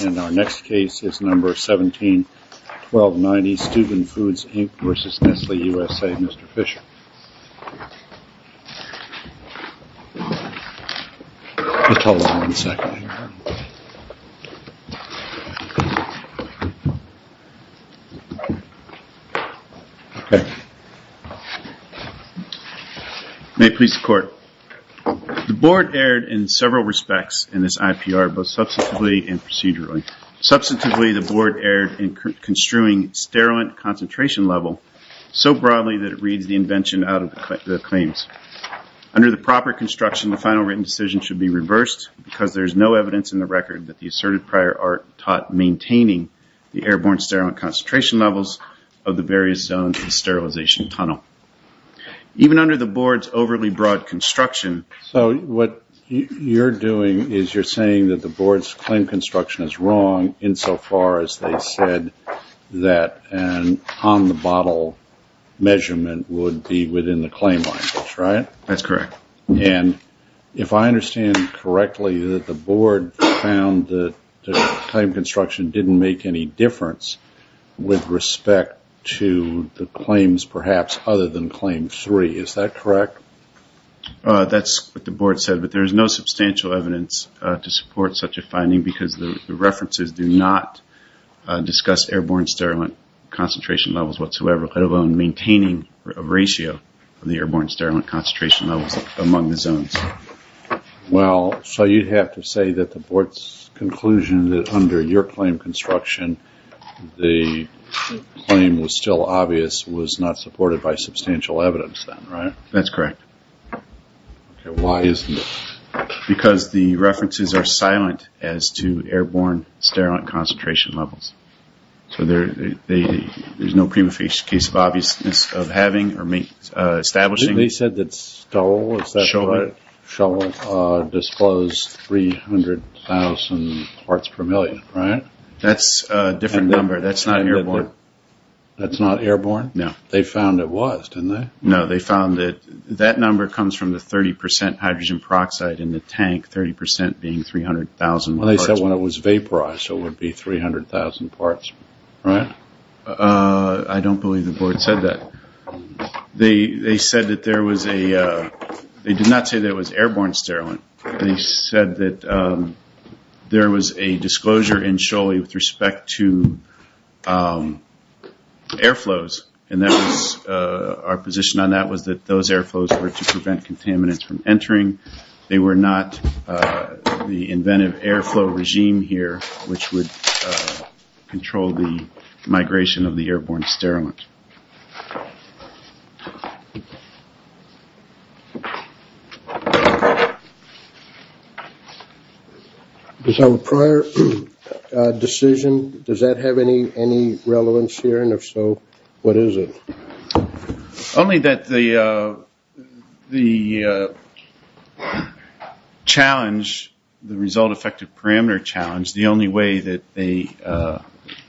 And our next case is number 17-1290, Steuben Foods, Inc. v. Nestle USA, Mr. Fisher. May it please the Court. The Board erred in several respects in this IPR, both substantively and procedurally. Substantively, the Board erred in construing sterilant concentration level so broadly that it reads the invention out of the claims. Under the proper construction, the final written decision should be reversed because there is no evidence in the record that the asserted prior art taught maintaining the airborne sterilant concentration levels of the various zones of the sterilization tunnel. Even under the Board's overly broad construction... So what you're doing is you're saying that the Board's claim construction is wrong insofar as they said that an on-the-bottle measurement would be within the claim language, right? That's correct. And if I understand correctly, the Board found that the claim construction didn't make any difference with respect to the claims, perhaps, other than Claim 3. Is that correct? That's what the Board said, but there is no substantial evidence to support such a finding because the references do not discuss airborne sterilant concentration levels whatsoever, let alone maintaining a ratio of the airborne sterilant concentration levels among the zones. Well, so you'd have to say that the Board's conclusion that under your claim construction the claim was still obvious was not supported by substantial evidence then, right? That's correct. Okay, why isn't it? Because the references are silent as to airborne sterilant concentration levels. So there's no prima facie case of obviousness of having or establishing... Didn't they say that Stowell disclosed 300,000 parts per million, right? That's a different number. That's not airborne. That's not airborne? No. They found it was, didn't they? No, they found that that number comes from the 30% hydrogen peroxide in the tank, 30% being 300,000 parts. Well, they said when it was vaporized, so it would be 300,000 parts, right? I don't believe the Board said that. They said that there was a, they did not say that it was airborne sterilant. They said that there was a disclosure in Scholey with respect to air flows, and our position on that was that those air flows were to prevent contaminants from entering. They were not the inventive air flow regime here, which would control the migration of the airborne sterilant. Does our prior decision, does that have any relevance here, and if so, what is it? Only that the challenge, the result effective parameter challenge, the only way that the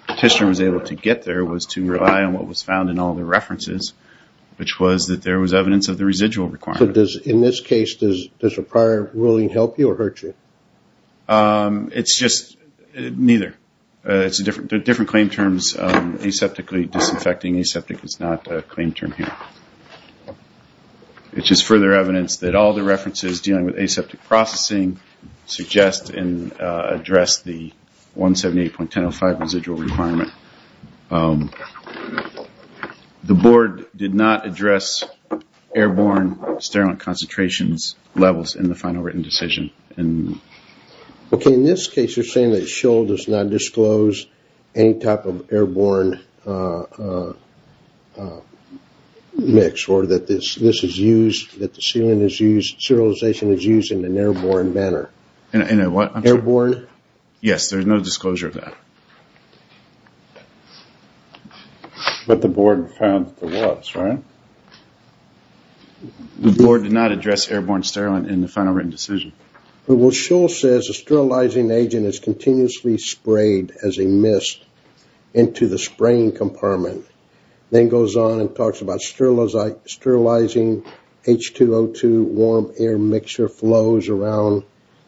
testers were able to get there was to rely on what was found in all the references, which was that there was evidence of the residual requirement. So in this case, does a prior ruling help you or hurt you? It's just, neither. There are different claim terms. Aseptically disinfecting, aseptic is not a claim term here. It's just further evidence that all the references dealing with aseptic processing suggest and address the 178.10.05 residual requirement. The Board did not address airborne sterilant concentrations levels in the final written decision. Okay, in this case, you're saying that SHL does not disclose any type of airborne mix, or that this is used, that the sterilization is used in an airborne manner. In a what? Airborne. Yes, there's no disclosure of that. But the Board found that there was, right? The Board did not address airborne sterilant in the final written decision. Well, SHL says a sterilizing agent is continuously sprayed as a mist into the spraying compartment. Then goes on and talks about sterilizing H2O2 warm air mixture flows around.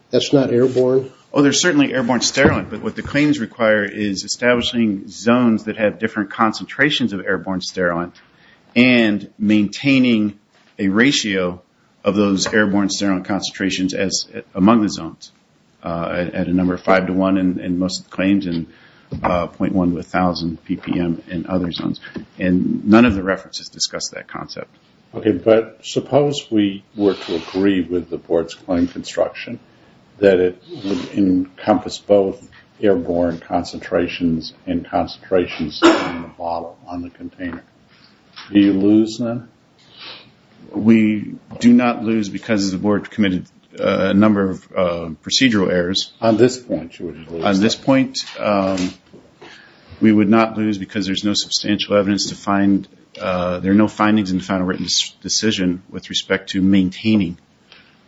That's not airborne? Oh, there's certainly airborne sterilant, but what the claims require is establishing zones that have different concentrations of airborne sterilant. And maintaining a ratio of those airborne sterilant concentrations among the zones. At a number of 5 to 1 in most claims, and 0.1 to 1,000 ppm in other zones. And none of the references discuss that concept. Okay, but suppose we were to agree with the Board's claim construction. That it would encompass both airborne concentrations and concentrations on the bottle, on the container. Do you lose then? We do not lose because the Board committed a number of procedural errors. On this point, you would lose. On this point, we would not lose because there's no substantial evidence to find. There are no findings in the final written decision with respect to maintaining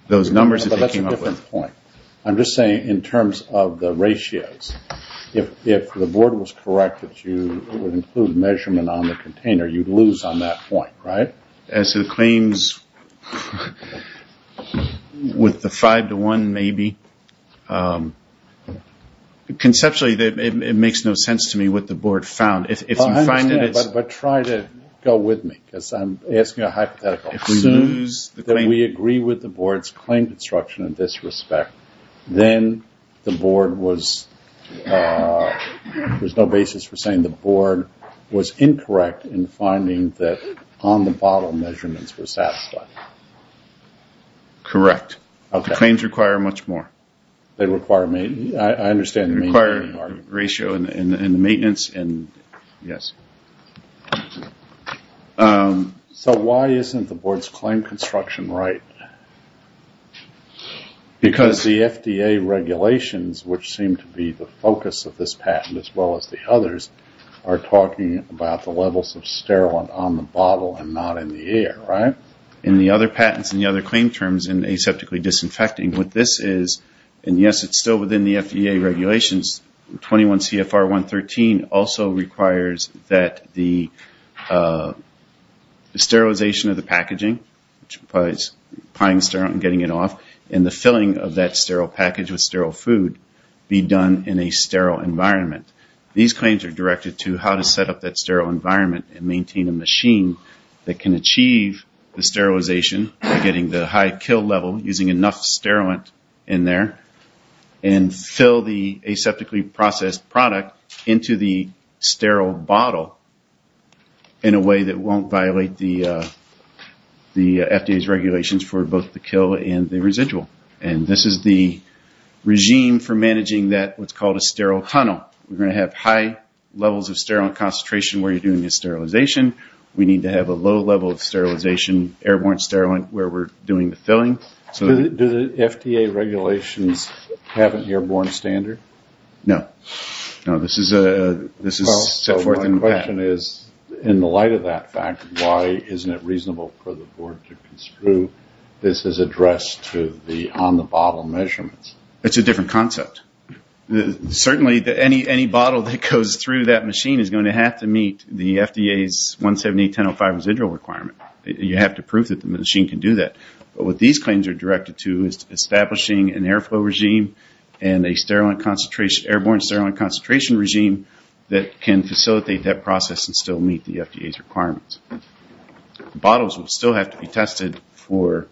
those numbers. But that's a different point. I'm just saying in terms of the ratios. If the Board was correct that it would include measurement on the container, you'd lose on that point, right? As to the claims with the 5 to 1 maybe. Conceptually, it makes no sense to me what the Board found. But try to go with me. Because I'm asking a hypothetical. If we agree with the Board's claim construction in this respect. Then the Board was, there's no basis for saying the Board was incorrect in finding that on the bottle measurements were satisfied. Correct. The claims require much more. They require, I understand. They require ratio and maintenance and yes. So why isn't the Board's claim construction right? Because the FDA regulations, which seem to be the focus of this patent as well as the others, are talking about the levels of sterile on the bottle and not in the air, right? In the other patents and the other claim terms in aseptically disinfecting, what this is, and yes it's still within the FDA regulations, 21 CFR 113 also requires that the sterilization of the packaging, which implies pying sterile and getting it off, and the filling of that sterile package with sterile food be done in a sterile environment. These claims are directed to how to set up that sterile environment and maintain a machine that can achieve the sterilization, getting the high kill level using enough sterile in there, and fill the aseptically processed product into the sterile bottle in a way that won't violate the FDA's regulations for both the kill and the residual. And this is the regime for managing that, what's called a sterile tunnel. We're going to have high levels of sterile concentration where you're doing the sterilization. We need to have a low level of sterilization, airborne sterile where we're doing the filling. Do the FDA regulations have an airborne standard? No. No, this is set forth in the patent. My question is, in the light of that fact, why isn't it reasonable for the board to construe this is addressed to the on-the-bottle measurements? It's a different concept. Certainly any bottle that goes through that machine is going to have to meet the FDA's 178.10.05 residual requirement. You have to prove that the machine can do that. But what these claims are directed to is establishing an airflow regime and an airborne sterile concentration regime that can facilitate that process and still meet the FDA's requirements. Bottles will still have to be tested for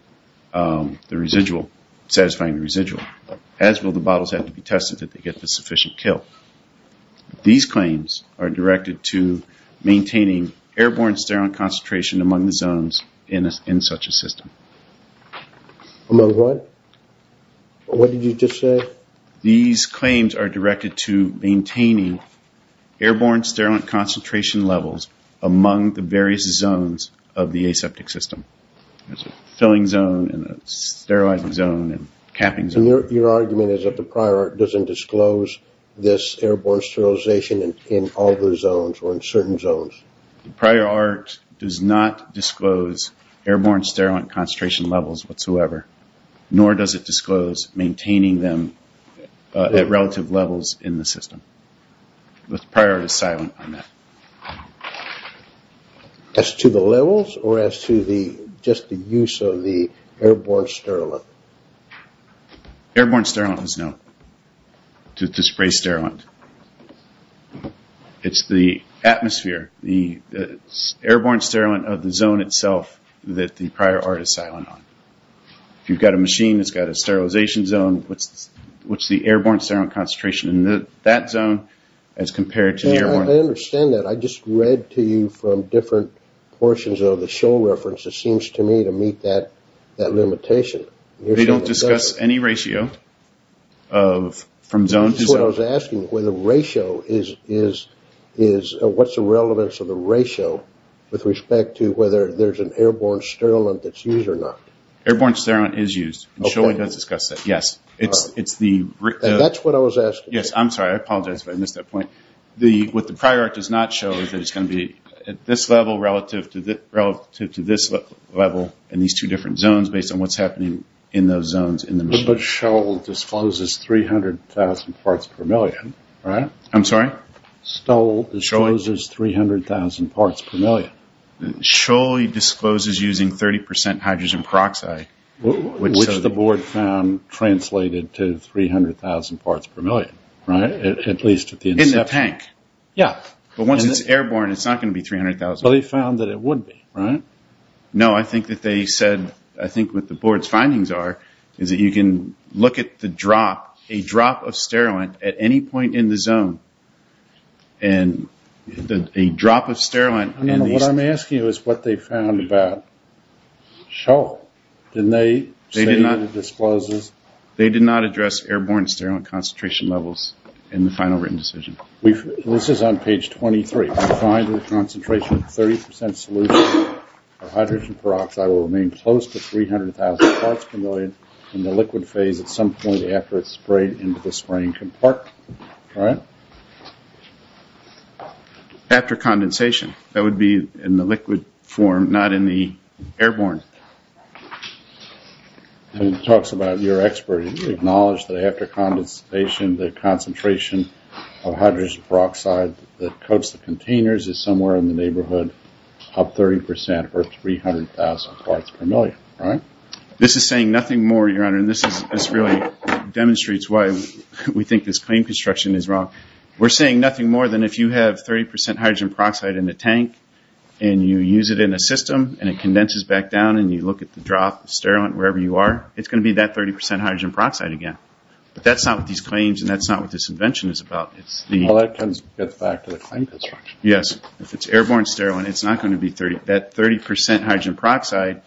the residual, satisfying the residual. As will the bottles have to be tested to get the sufficient kill. These claims are directed to maintaining airborne sterile concentration among the zones in such a system. Among what? What did you just say? These claims are directed to maintaining airborne sterile concentration levels among the various zones of the aseptic system. There's a filling zone and a sterilizing zone and capping zone. And your argument is that the prior art doesn't disclose this airborne sterilization in all the zones or in certain zones? The prior art does not disclose airborne sterile concentration levels whatsoever. Nor does it disclose maintaining them at relative levels in the system. The prior art is silent on that. As to the levels or as to just the use of the airborne sterile? Airborne sterile is no. To spray sterile. It's the atmosphere. The airborne sterile of the zone itself that the prior art is silent on. You've got a machine that's got a sterilization zone. What's the airborne sterile concentration in that zone as compared to the airborne? I understand that. I just read to you from different portions of the show reference. It seems to me to meet that limitation. They don't discuss any ratio from zone to zone? That's what I was asking. What's the relevance of the ratio with respect to whether there's an airborne sterile that's used or not? Airborne sterile is used. SHOEI does discuss that, yes. That's what I was asking. Yes, I'm sorry. I apologize if I missed that point. What the prior art does not show is that it's going to be at this level relative to this level in these two different zones based on what's happening in those zones. But SHOEI discloses 300,000 parts per million, right? I'm sorry? SHOEI discloses 300,000 parts per million. SHOEI discloses using 30% hydrogen peroxide. Which the board found translated to 300,000 parts per million, right? In the tank. Yes. But once it's airborne, it's not going to be 300,000. But they found that it would be, right? No, I think that they said, I think what the board's findings are is that you can look at the drop, a drop of sterile at any point in the zone. And a drop of sterile in these... What I'm asking is what they found about SHOEI. Didn't they say that it discloses... They did not address airborne sterile concentration levels in the final written decision. This is on page 23. We find that the concentration of 30% solution of hydrogen peroxide will remain close to 300,000 parts per million in the liquid phase at some point after it's sprayed into the spraying compartment. Right? After condensation. That would be in the liquid form, not in the airborne. And it talks about your expert. Did you acknowledge that after condensation, the concentration of hydrogen peroxide that coats the containers is somewhere in the neighborhood of 30% or 300,000 parts per million, right? This is saying nothing more, Your Honor. And this really demonstrates why we think this claim construction is wrong. We're saying nothing more than if you have 30% hydrogen peroxide in the tank and you use it in a system and it condenses back down and you look at the drop of sterile wherever you are, it's going to be that 30% hydrogen peroxide again. But that's not what these claims and that's not what this invention is about. Well, that comes back to the claim construction. Yes. If it's airborne sterile, it's not going to be that 30% hydrogen peroxide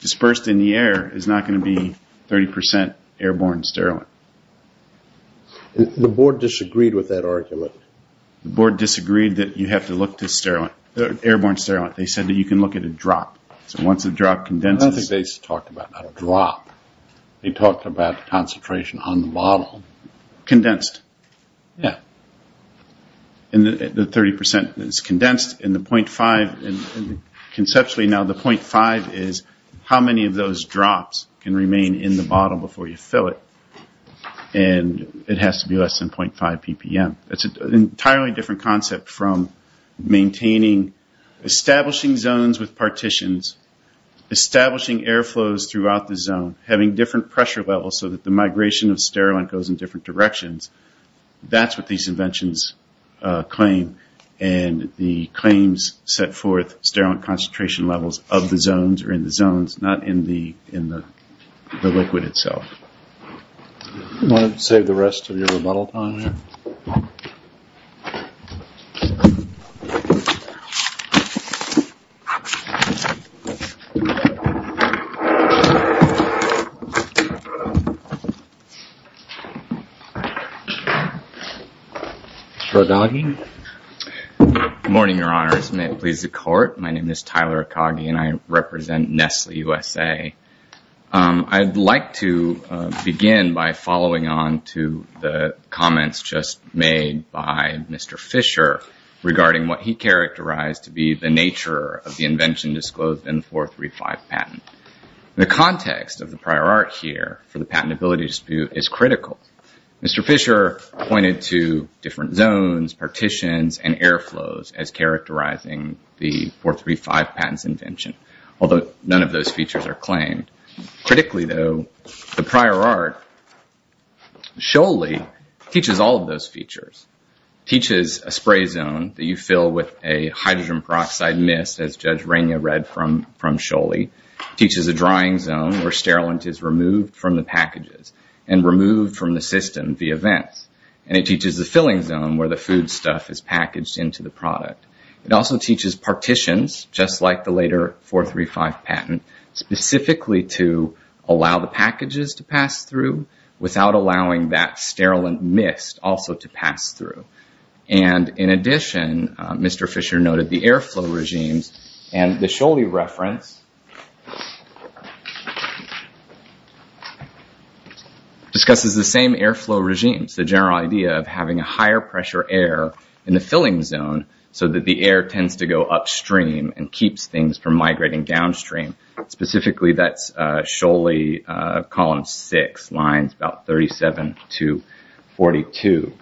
dispersed in the air is not going to be 30% airborne sterile. The board disagreed with that argument. The board disagreed that you have to look to airborne sterile. They said that you can look at a drop. I don't think they talked about a drop. They talked about concentration on the bottle. Condensed. Yes. And the 30% is condensed and the .5, conceptually now the .5 is how many of those drops can remain in the bottle before you fill it. And it has to be less than .5 ppm. It's an entirely different concept from maintaining, establishing zones with partitions, establishing air flows throughout the zone, having different pressure levels so that the migration of sterile goes in different directions. That's what these inventions claim. And the claims set forth sterile concentration levels of the zones or in the zones, not in the liquid itself. I'm going to save the rest of your rebuttal time here. Akagi. Good morning, your honors. May it please the court. My name is Tyler Akagi and I represent Nestle USA. I'd like to begin by following on to the comments just made by Mr. Fisher regarding what he characterized to be the nature of the invention disclosed in the 435 patent. The context of the prior art here for the patentability dispute is critical. Mr. Fisher pointed to different zones, partitions, and air flows as characterizing the 435 patent's invention. Although none of those features are claimed. Critically, though, the prior art, Scholey, teaches all of those features. It teaches a spray zone that you fill with a hydrogen peroxide mist, as Judge Rainier read from Scholey. It teaches a drying zone where sterilant is removed from the packages and removed from the system via vents. And it teaches the filling zone where the foodstuff is packaged into the product. It also teaches partitions, just like the later 435 patent, specifically to allow the packages to pass through without allowing that sterilant mist also to pass through. And in addition, Mr. Fisher noted the air flow regimes and the Scholey reference discusses the same air flow regimes. The general idea of having a higher pressure air in the filling zone so that the air tends to go upstream and keeps things from migrating downstream. Specifically, that's Scholey column 6, lines about 37 to 42.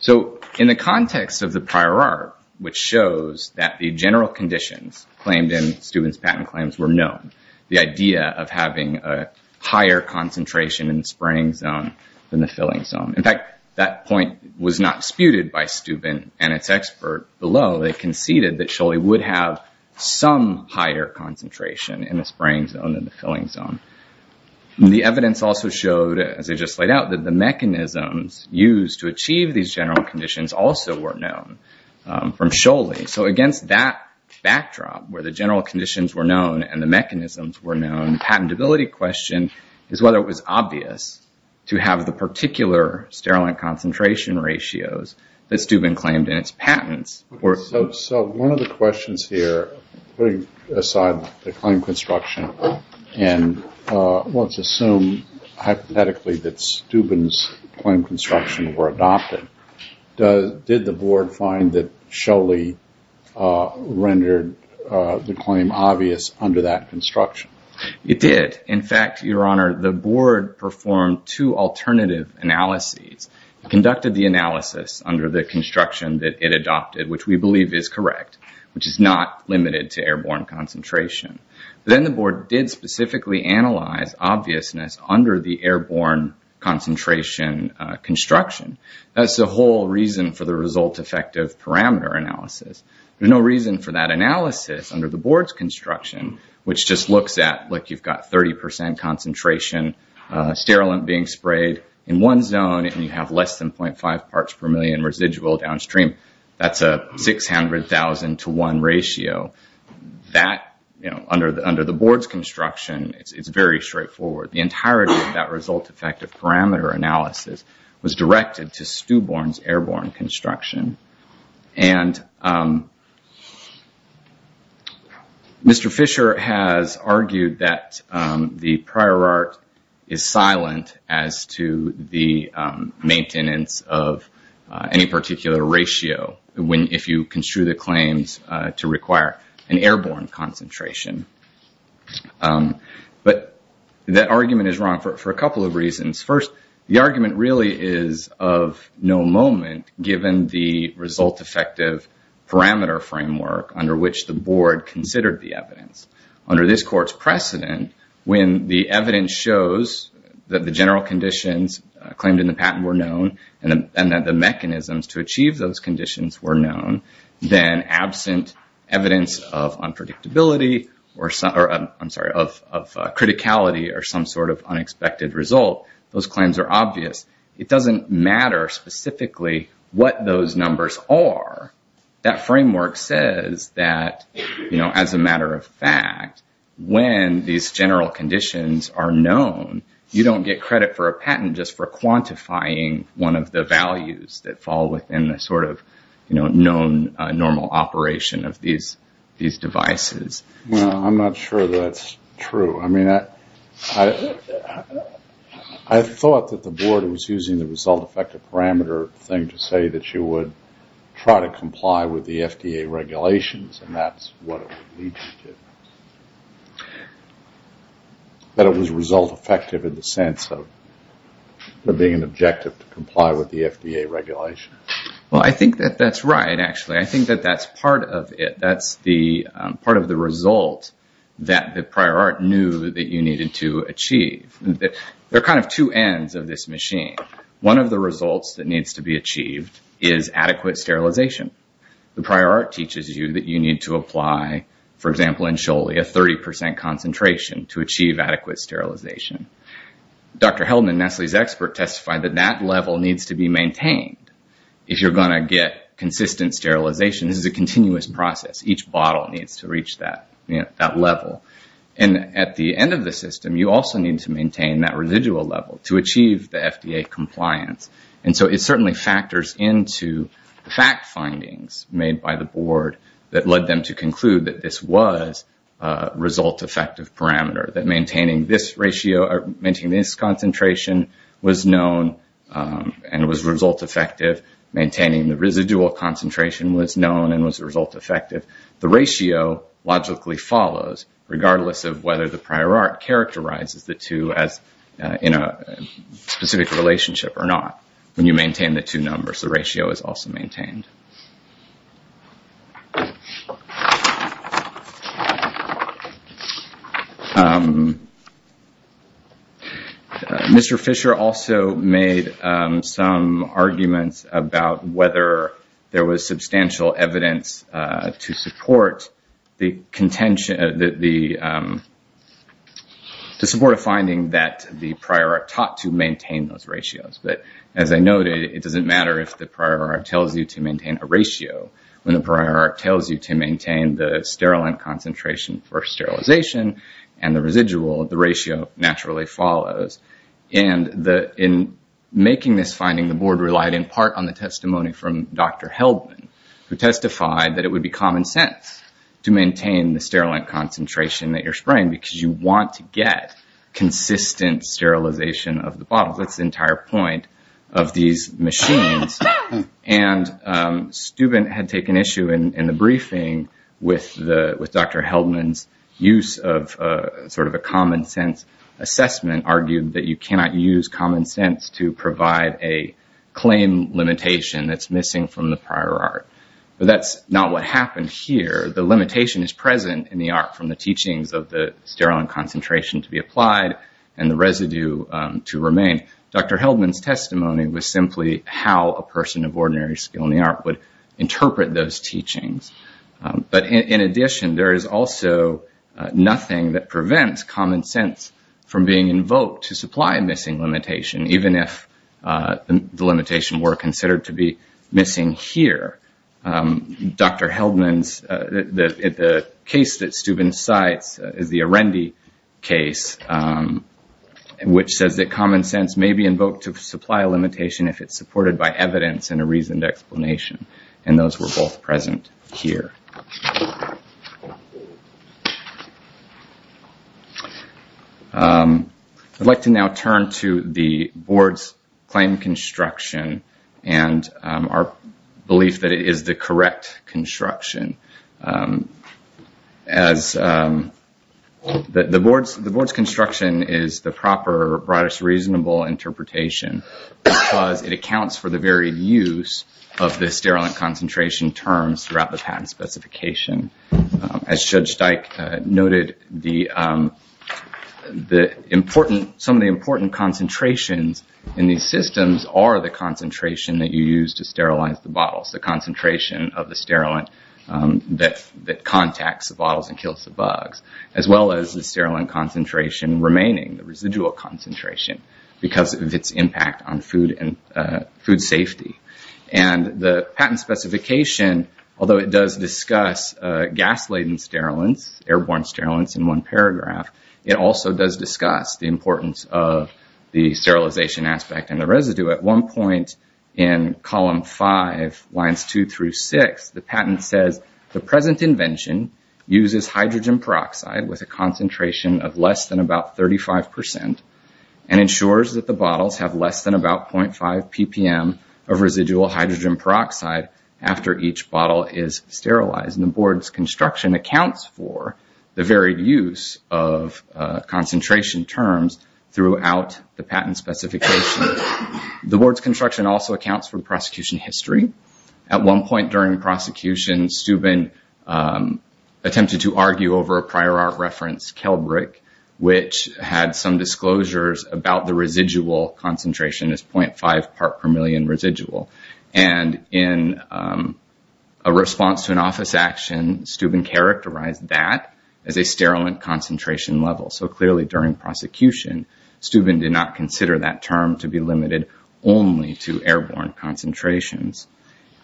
So in the context of the prior art, which shows that the general conditions claimed in Steuben's patent claims were known. The idea of having a higher concentration in the spraying zone than the filling zone. In fact, that point was not disputed by Steuben and its expert below. They conceded that Scholey would have some higher concentration in the spraying zone than the filling zone. The evidence also showed, as I just laid out, that the mechanisms used to achieve these general conditions also were known from Scholey. So against that backdrop, where the general conditions were known and the mechanisms were known, the patentability question is whether it was obvious to have the particular sterile concentration ratios that Steuben claimed in its patents. So one of the questions here, putting aside the claim construction, and let's assume hypothetically that Steuben's claim construction were adopted. Did the board find that Scholey rendered the claim obvious under that construction? It did. In fact, Your Honor, the board performed two alternative analyses. It conducted the analysis under the construction that it adopted, which we believe is correct, which is not limited to airborne concentration. Then the board did specifically analyze obviousness under the airborne concentration construction. That's the whole reason for the result-effective parameter analysis. There's no reason for that analysis under the board's construction, which just looks at, like, you've got 30 percent concentration sterile being sprayed in one zone, and you have less than 0.5 parts per million residual downstream. That's a 600,000 to one ratio. That, you know, under the board's construction, it's very straightforward. The entirety of that result-effective parameter analysis was directed to Steuben's airborne construction. And Mr. Fisher has argued that the prior art is silent as to the maintenance of any particular ratio, if you construe the claims to require an airborne concentration. But that argument is wrong for a couple of reasons. First, the argument really is of no moment given the result-effective parameter framework under which the board considered the evidence. Under this court's precedent, when the evidence shows that the general conditions claimed in the patent were known and that the mechanisms to achieve those conditions were known, then absent evidence of unpredictability or, I'm sorry, of criticality or some sort of unexpected result, those claims are obvious. It doesn't matter specifically what those numbers are. That framework says that, you know, as a matter of fact, when these general conditions are known, you don't get credit for a patent just for quantifying one of the values that fall within the sort of, you know, known normal operation of these devices. Well, I'm not sure that's true. I mean, I thought that the board was using the result-effective parameter thing to say that you would try to comply with the FDA regulations, and that's what it would lead you to. But it was result-effective in the sense of being an objective to comply with the FDA regulations. Well, I think that that's right, actually. I think that that's part of it. That's part of the result that the prior art knew that you needed to achieve. There are kind of two ends of this machine. One of the results that needs to be achieved is adequate sterilization. The prior art teaches you that you need to apply, for example, in Sholey, a 30 percent concentration to achieve adequate sterilization. Dr. Heldman, Nestle's expert, testified that that level needs to be maintained. If you're going to get consistent sterilization, this is a continuous process. Each bottle needs to reach that level. And at the end of the system, you also need to maintain that residual level to achieve the FDA compliance. And so it certainly factors into the fact findings made by the board that led them to conclude that this was a result-effective parameter, that maintaining this ratio or maintaining this concentration was known and was result-effective. Maintaining the residual concentration was known and was result-effective. The ratio logically follows, regardless of whether the prior art characterizes the two in a specific relationship or not. When you maintain the two numbers, the ratio is also maintained. Mr. Fisher also made some arguments about whether there was substantial evidence to support a finding that the prior art taught to maintain those ratios. But as I noted, it doesn't matter if the prior art tells you to maintain a ratio. When the prior art tells you to maintain the sterile concentration for sterilization and the residual, the ratio naturally follows. And in making this finding, the board relied in part on the testimony from Dr. Heldman, who testified that it would be common sense to maintain the sterile concentration that you're spraying, because you want to get consistent sterilization of the bottle. It's the entire point of these machines. And Stubin had taken issue in the briefing with Dr. Heldman's use of sort of a common sense assessment, argued that you cannot use common sense to provide a claim limitation that's missing from the prior art. But that's not what happened here. The limitation is present in the art from the teachings of the sterile concentration to be applied and the residue to remain. Dr. Heldman's testimony was simply how a person of ordinary skill in the art would interpret those teachings. But in addition, there is also nothing that prevents common sense from being invoked to supply a missing limitation, even if the limitation were considered to be missing here. Dr. Heldman's case that Stubin cites is the Arendi case, which says that common sense may be invoked to supply a limitation if it's supported by evidence and a reasoned explanation. And those were both present here. I'd like to now turn to the board's claim construction and our belief that it is the correct construction. The board's construction is the proper, broadest, reasonable interpretation, because it accounts for the very use of the sterile concentration terms throughout the patent specification. As Judge Steik noted, some of the important concentrations in these systems are the concentration that you use to sterilize the bottles, the concentration of the sterile that contacts the bottles and kills the bugs, as well as the sterile concentration remaining, the residual concentration, because of its impact on food safety. And the patent specification, although it does discuss gas-laden sterilants, airborne sterilants in one paragraph, it also does discuss the importance of the sterilization aspect and the residue. At one point in column five, lines two through six, the patent says, the present invention uses hydrogen peroxide with a concentration of less than about 35 percent and ensures that the bottles have less than about 0.5 ppm of residual hydrogen peroxide after each bottle is sterilized. And the board's construction accounts for the very use of concentration terms throughout the patent specification. The board's construction also accounts for the prosecution history. At one point during the prosecution, Steuben attempted to argue over a prior art reference, Kelbrick, which had some disclosures about the residual concentration as 0.5 ppm residual. And in a response to an office action, Steuben characterized that as a sterilant concentration level. So clearly during prosecution, Steuben did not consider that term to be limited only to airborne concentrations.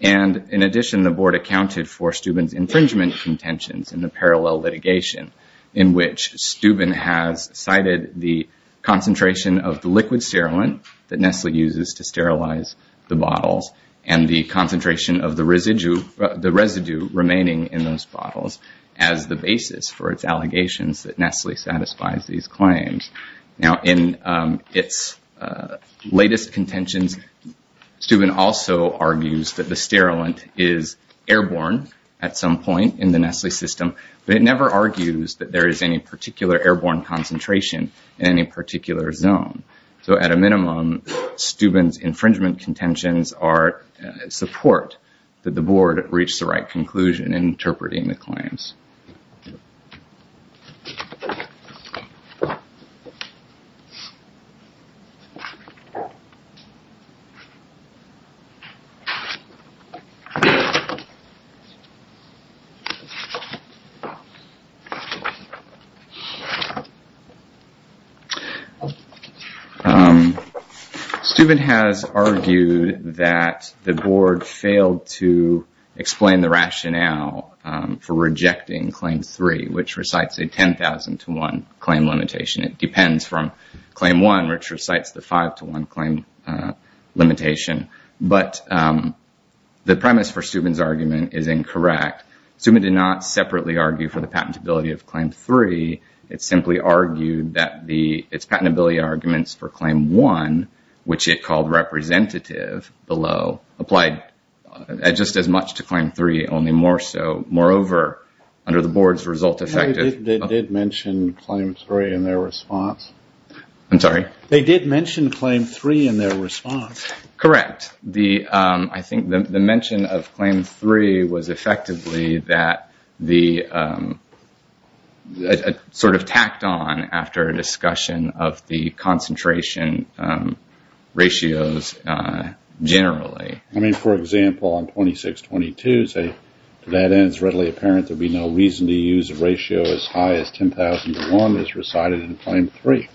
And in addition, the board accounted for Steuben's infringement contentions in the parallel litigation, in which Steuben has cited the concentration of the liquid sterilant that Nestle uses to sterilize the bottles and the concentration of the residue remaining in those bottles as the basis for its allegations that Nestle satisfies these claims. Now, in its latest contentions, Steuben also argues that the sterilant is airborne at some point in the Nestle system, but it never argues that there is any particular airborne concentration in any particular zone. So at a minimum, Steuben's infringement contentions support that the board reached the right conclusion in interpreting the claims. Steuben has argued that the board failed to explain the rationale for rejecting Claim 3, which recites a 10,000 to 1 claim limitation. It depends from Claim 1, which recites the 5 to 1 claim limitation. But the premise for Steuben's argument is incorrect. Steuben did not separately argue for the patentability of Claim 3. It simply argued that its patentability arguments for Claim 1, which it called representative below, applied just as much to Claim 3, only more so. Moreover, under the board's result effective... They did mention Claim 3 in their response. I'm sorry? They did mention Claim 3 in their response. Correct. I think the mention of Claim 3 was effectively sort of tacked on after a discussion of the concentration ratios generally. I mean, for example, on 2622, say, to that end, it's readily apparent there'd be no reason to use a ratio as high as 10,000 to 1 as recited in Claim 3.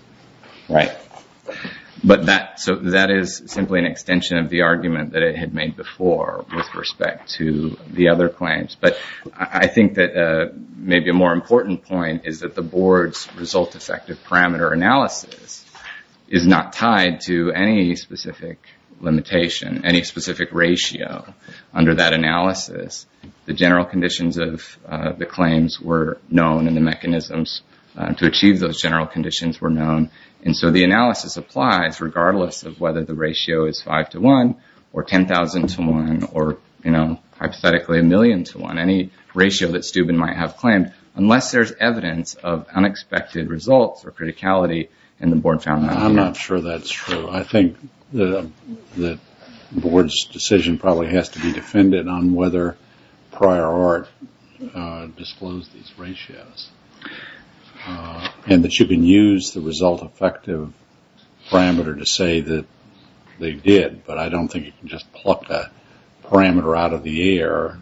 Right. But that is simply an extension of the argument that it had made before with respect to the other claims. But I think that maybe a more important point is that the board's result effective parameter analysis is not tied to any specific limitation, any specific ratio. Under that analysis, the general conditions of the claims were known, and the mechanisms to achieve those general conditions were known. And so the analysis applies regardless of whether the ratio is 5 to 1 or 10,000 to 1 or, you know, hypothetically a million to 1, any ratio that Steuben might have claimed, unless there's evidence of unexpected results or criticality, and the board found that. I'm not sure that's true. I think the board's decision probably has to be defended on whether prior art disclosed these ratios and that you can use the result effective parameter to say that they did. But I don't think you can just pluck a parameter out of the air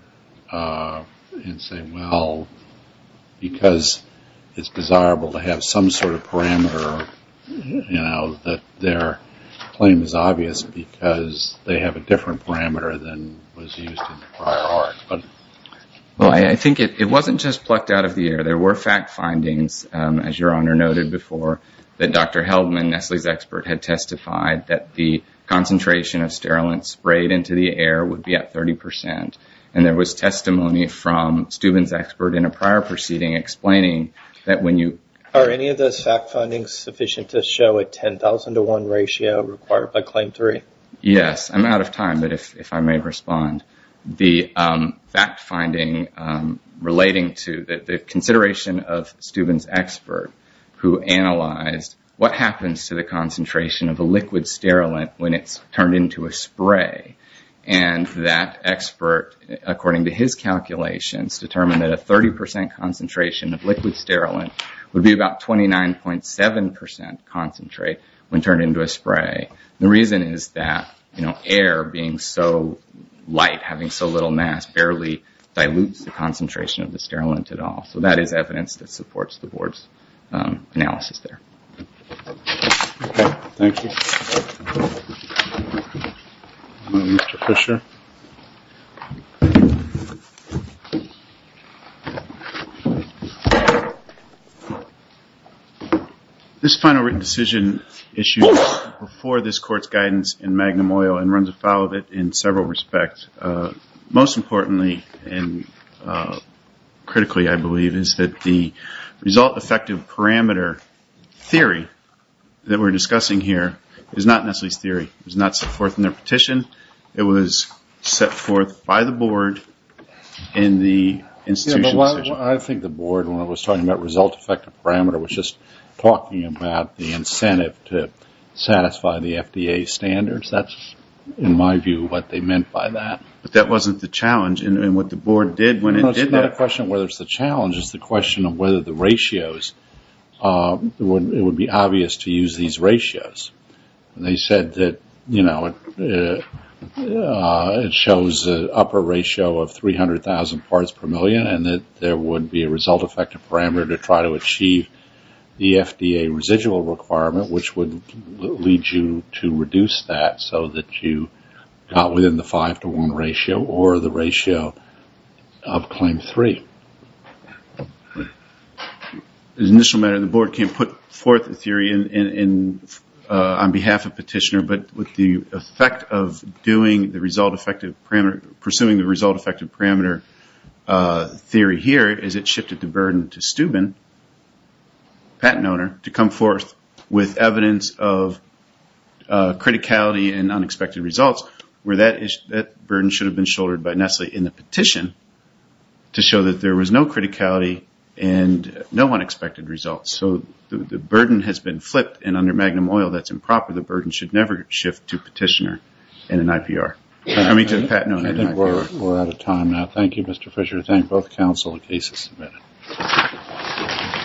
and say, well, because it's desirable to have some sort of parameter, you know, that their claim is obvious because they have a different parameter than was used in prior art. Well, I think it wasn't just plucked out of the air. There were fact findings, as Your Honor noted before, that Dr. Heldman, Nestle's expert, had testified that the concentration of sterilant sprayed into the air would be at 30 percent. And there was testimony from Steuben's expert in a prior proceeding explaining that when you- Are any of those fact findings sufficient to show a 10,000 to 1 ratio required by Claim 3? Yes. I'm out of time, but if I may respond. The fact finding relating to the consideration of Steuben's expert, who analyzed what happens to the concentration of a liquid sterilant when it's turned into a spray. And that expert, according to his calculations, determined that a 30 percent concentration of liquid sterilant would be about 29.7 percent concentrate when turned into a spray. The reason is that, you know, air being so light, having so little mass, barely dilutes the concentration of the sterilant at all. So that is evidence that supports the board's analysis there. Thank you. Mr. Fisher. This final written decision issued before this court's guidance in Magnum Oil and runs afoul of it in several respects. Most importantly and critically, I believe, is that the result effective parameter theory that we're discussing here is not Nestle's theory. It was not set forth in their petition. It was set forth by the board in the institution's decision. I think the board, when it was talking about result effective parameter, was just talking about the incentive to satisfy the FDA standards. That's, in my view, what they meant by that. But that wasn't the challenge. And what the board did when it did that. It's not a question of whether it's the challenge. It's the question of whether the ratios, it would be obvious to use these ratios. And they said that, you know, it shows an upper ratio of 300,000 parts per million and that there would be a result effective parameter to try to achieve the FDA residual requirement, which would lead you to reduce that so that you got within the five to one ratio or the ratio of claim three. The initial matter, the board can't put forth a theory on behalf of petitioner, but with the effect of doing the result effective parameter, pursuing the result effective parameter theory here, is it shifted the burden to Steuben, patent owner, to come forth with evidence of criticality and unexpected results where that burden should have been shouldered by Nestle in the petition to show that there was no criticality and no unexpected results. So the burden has been flipped, and under Magnum Oil, that's improper. The burden should never shift to petitioner in an IPR. I think we're out of time now. Thank you, Mr. Fisher. Thank both counsel and cases.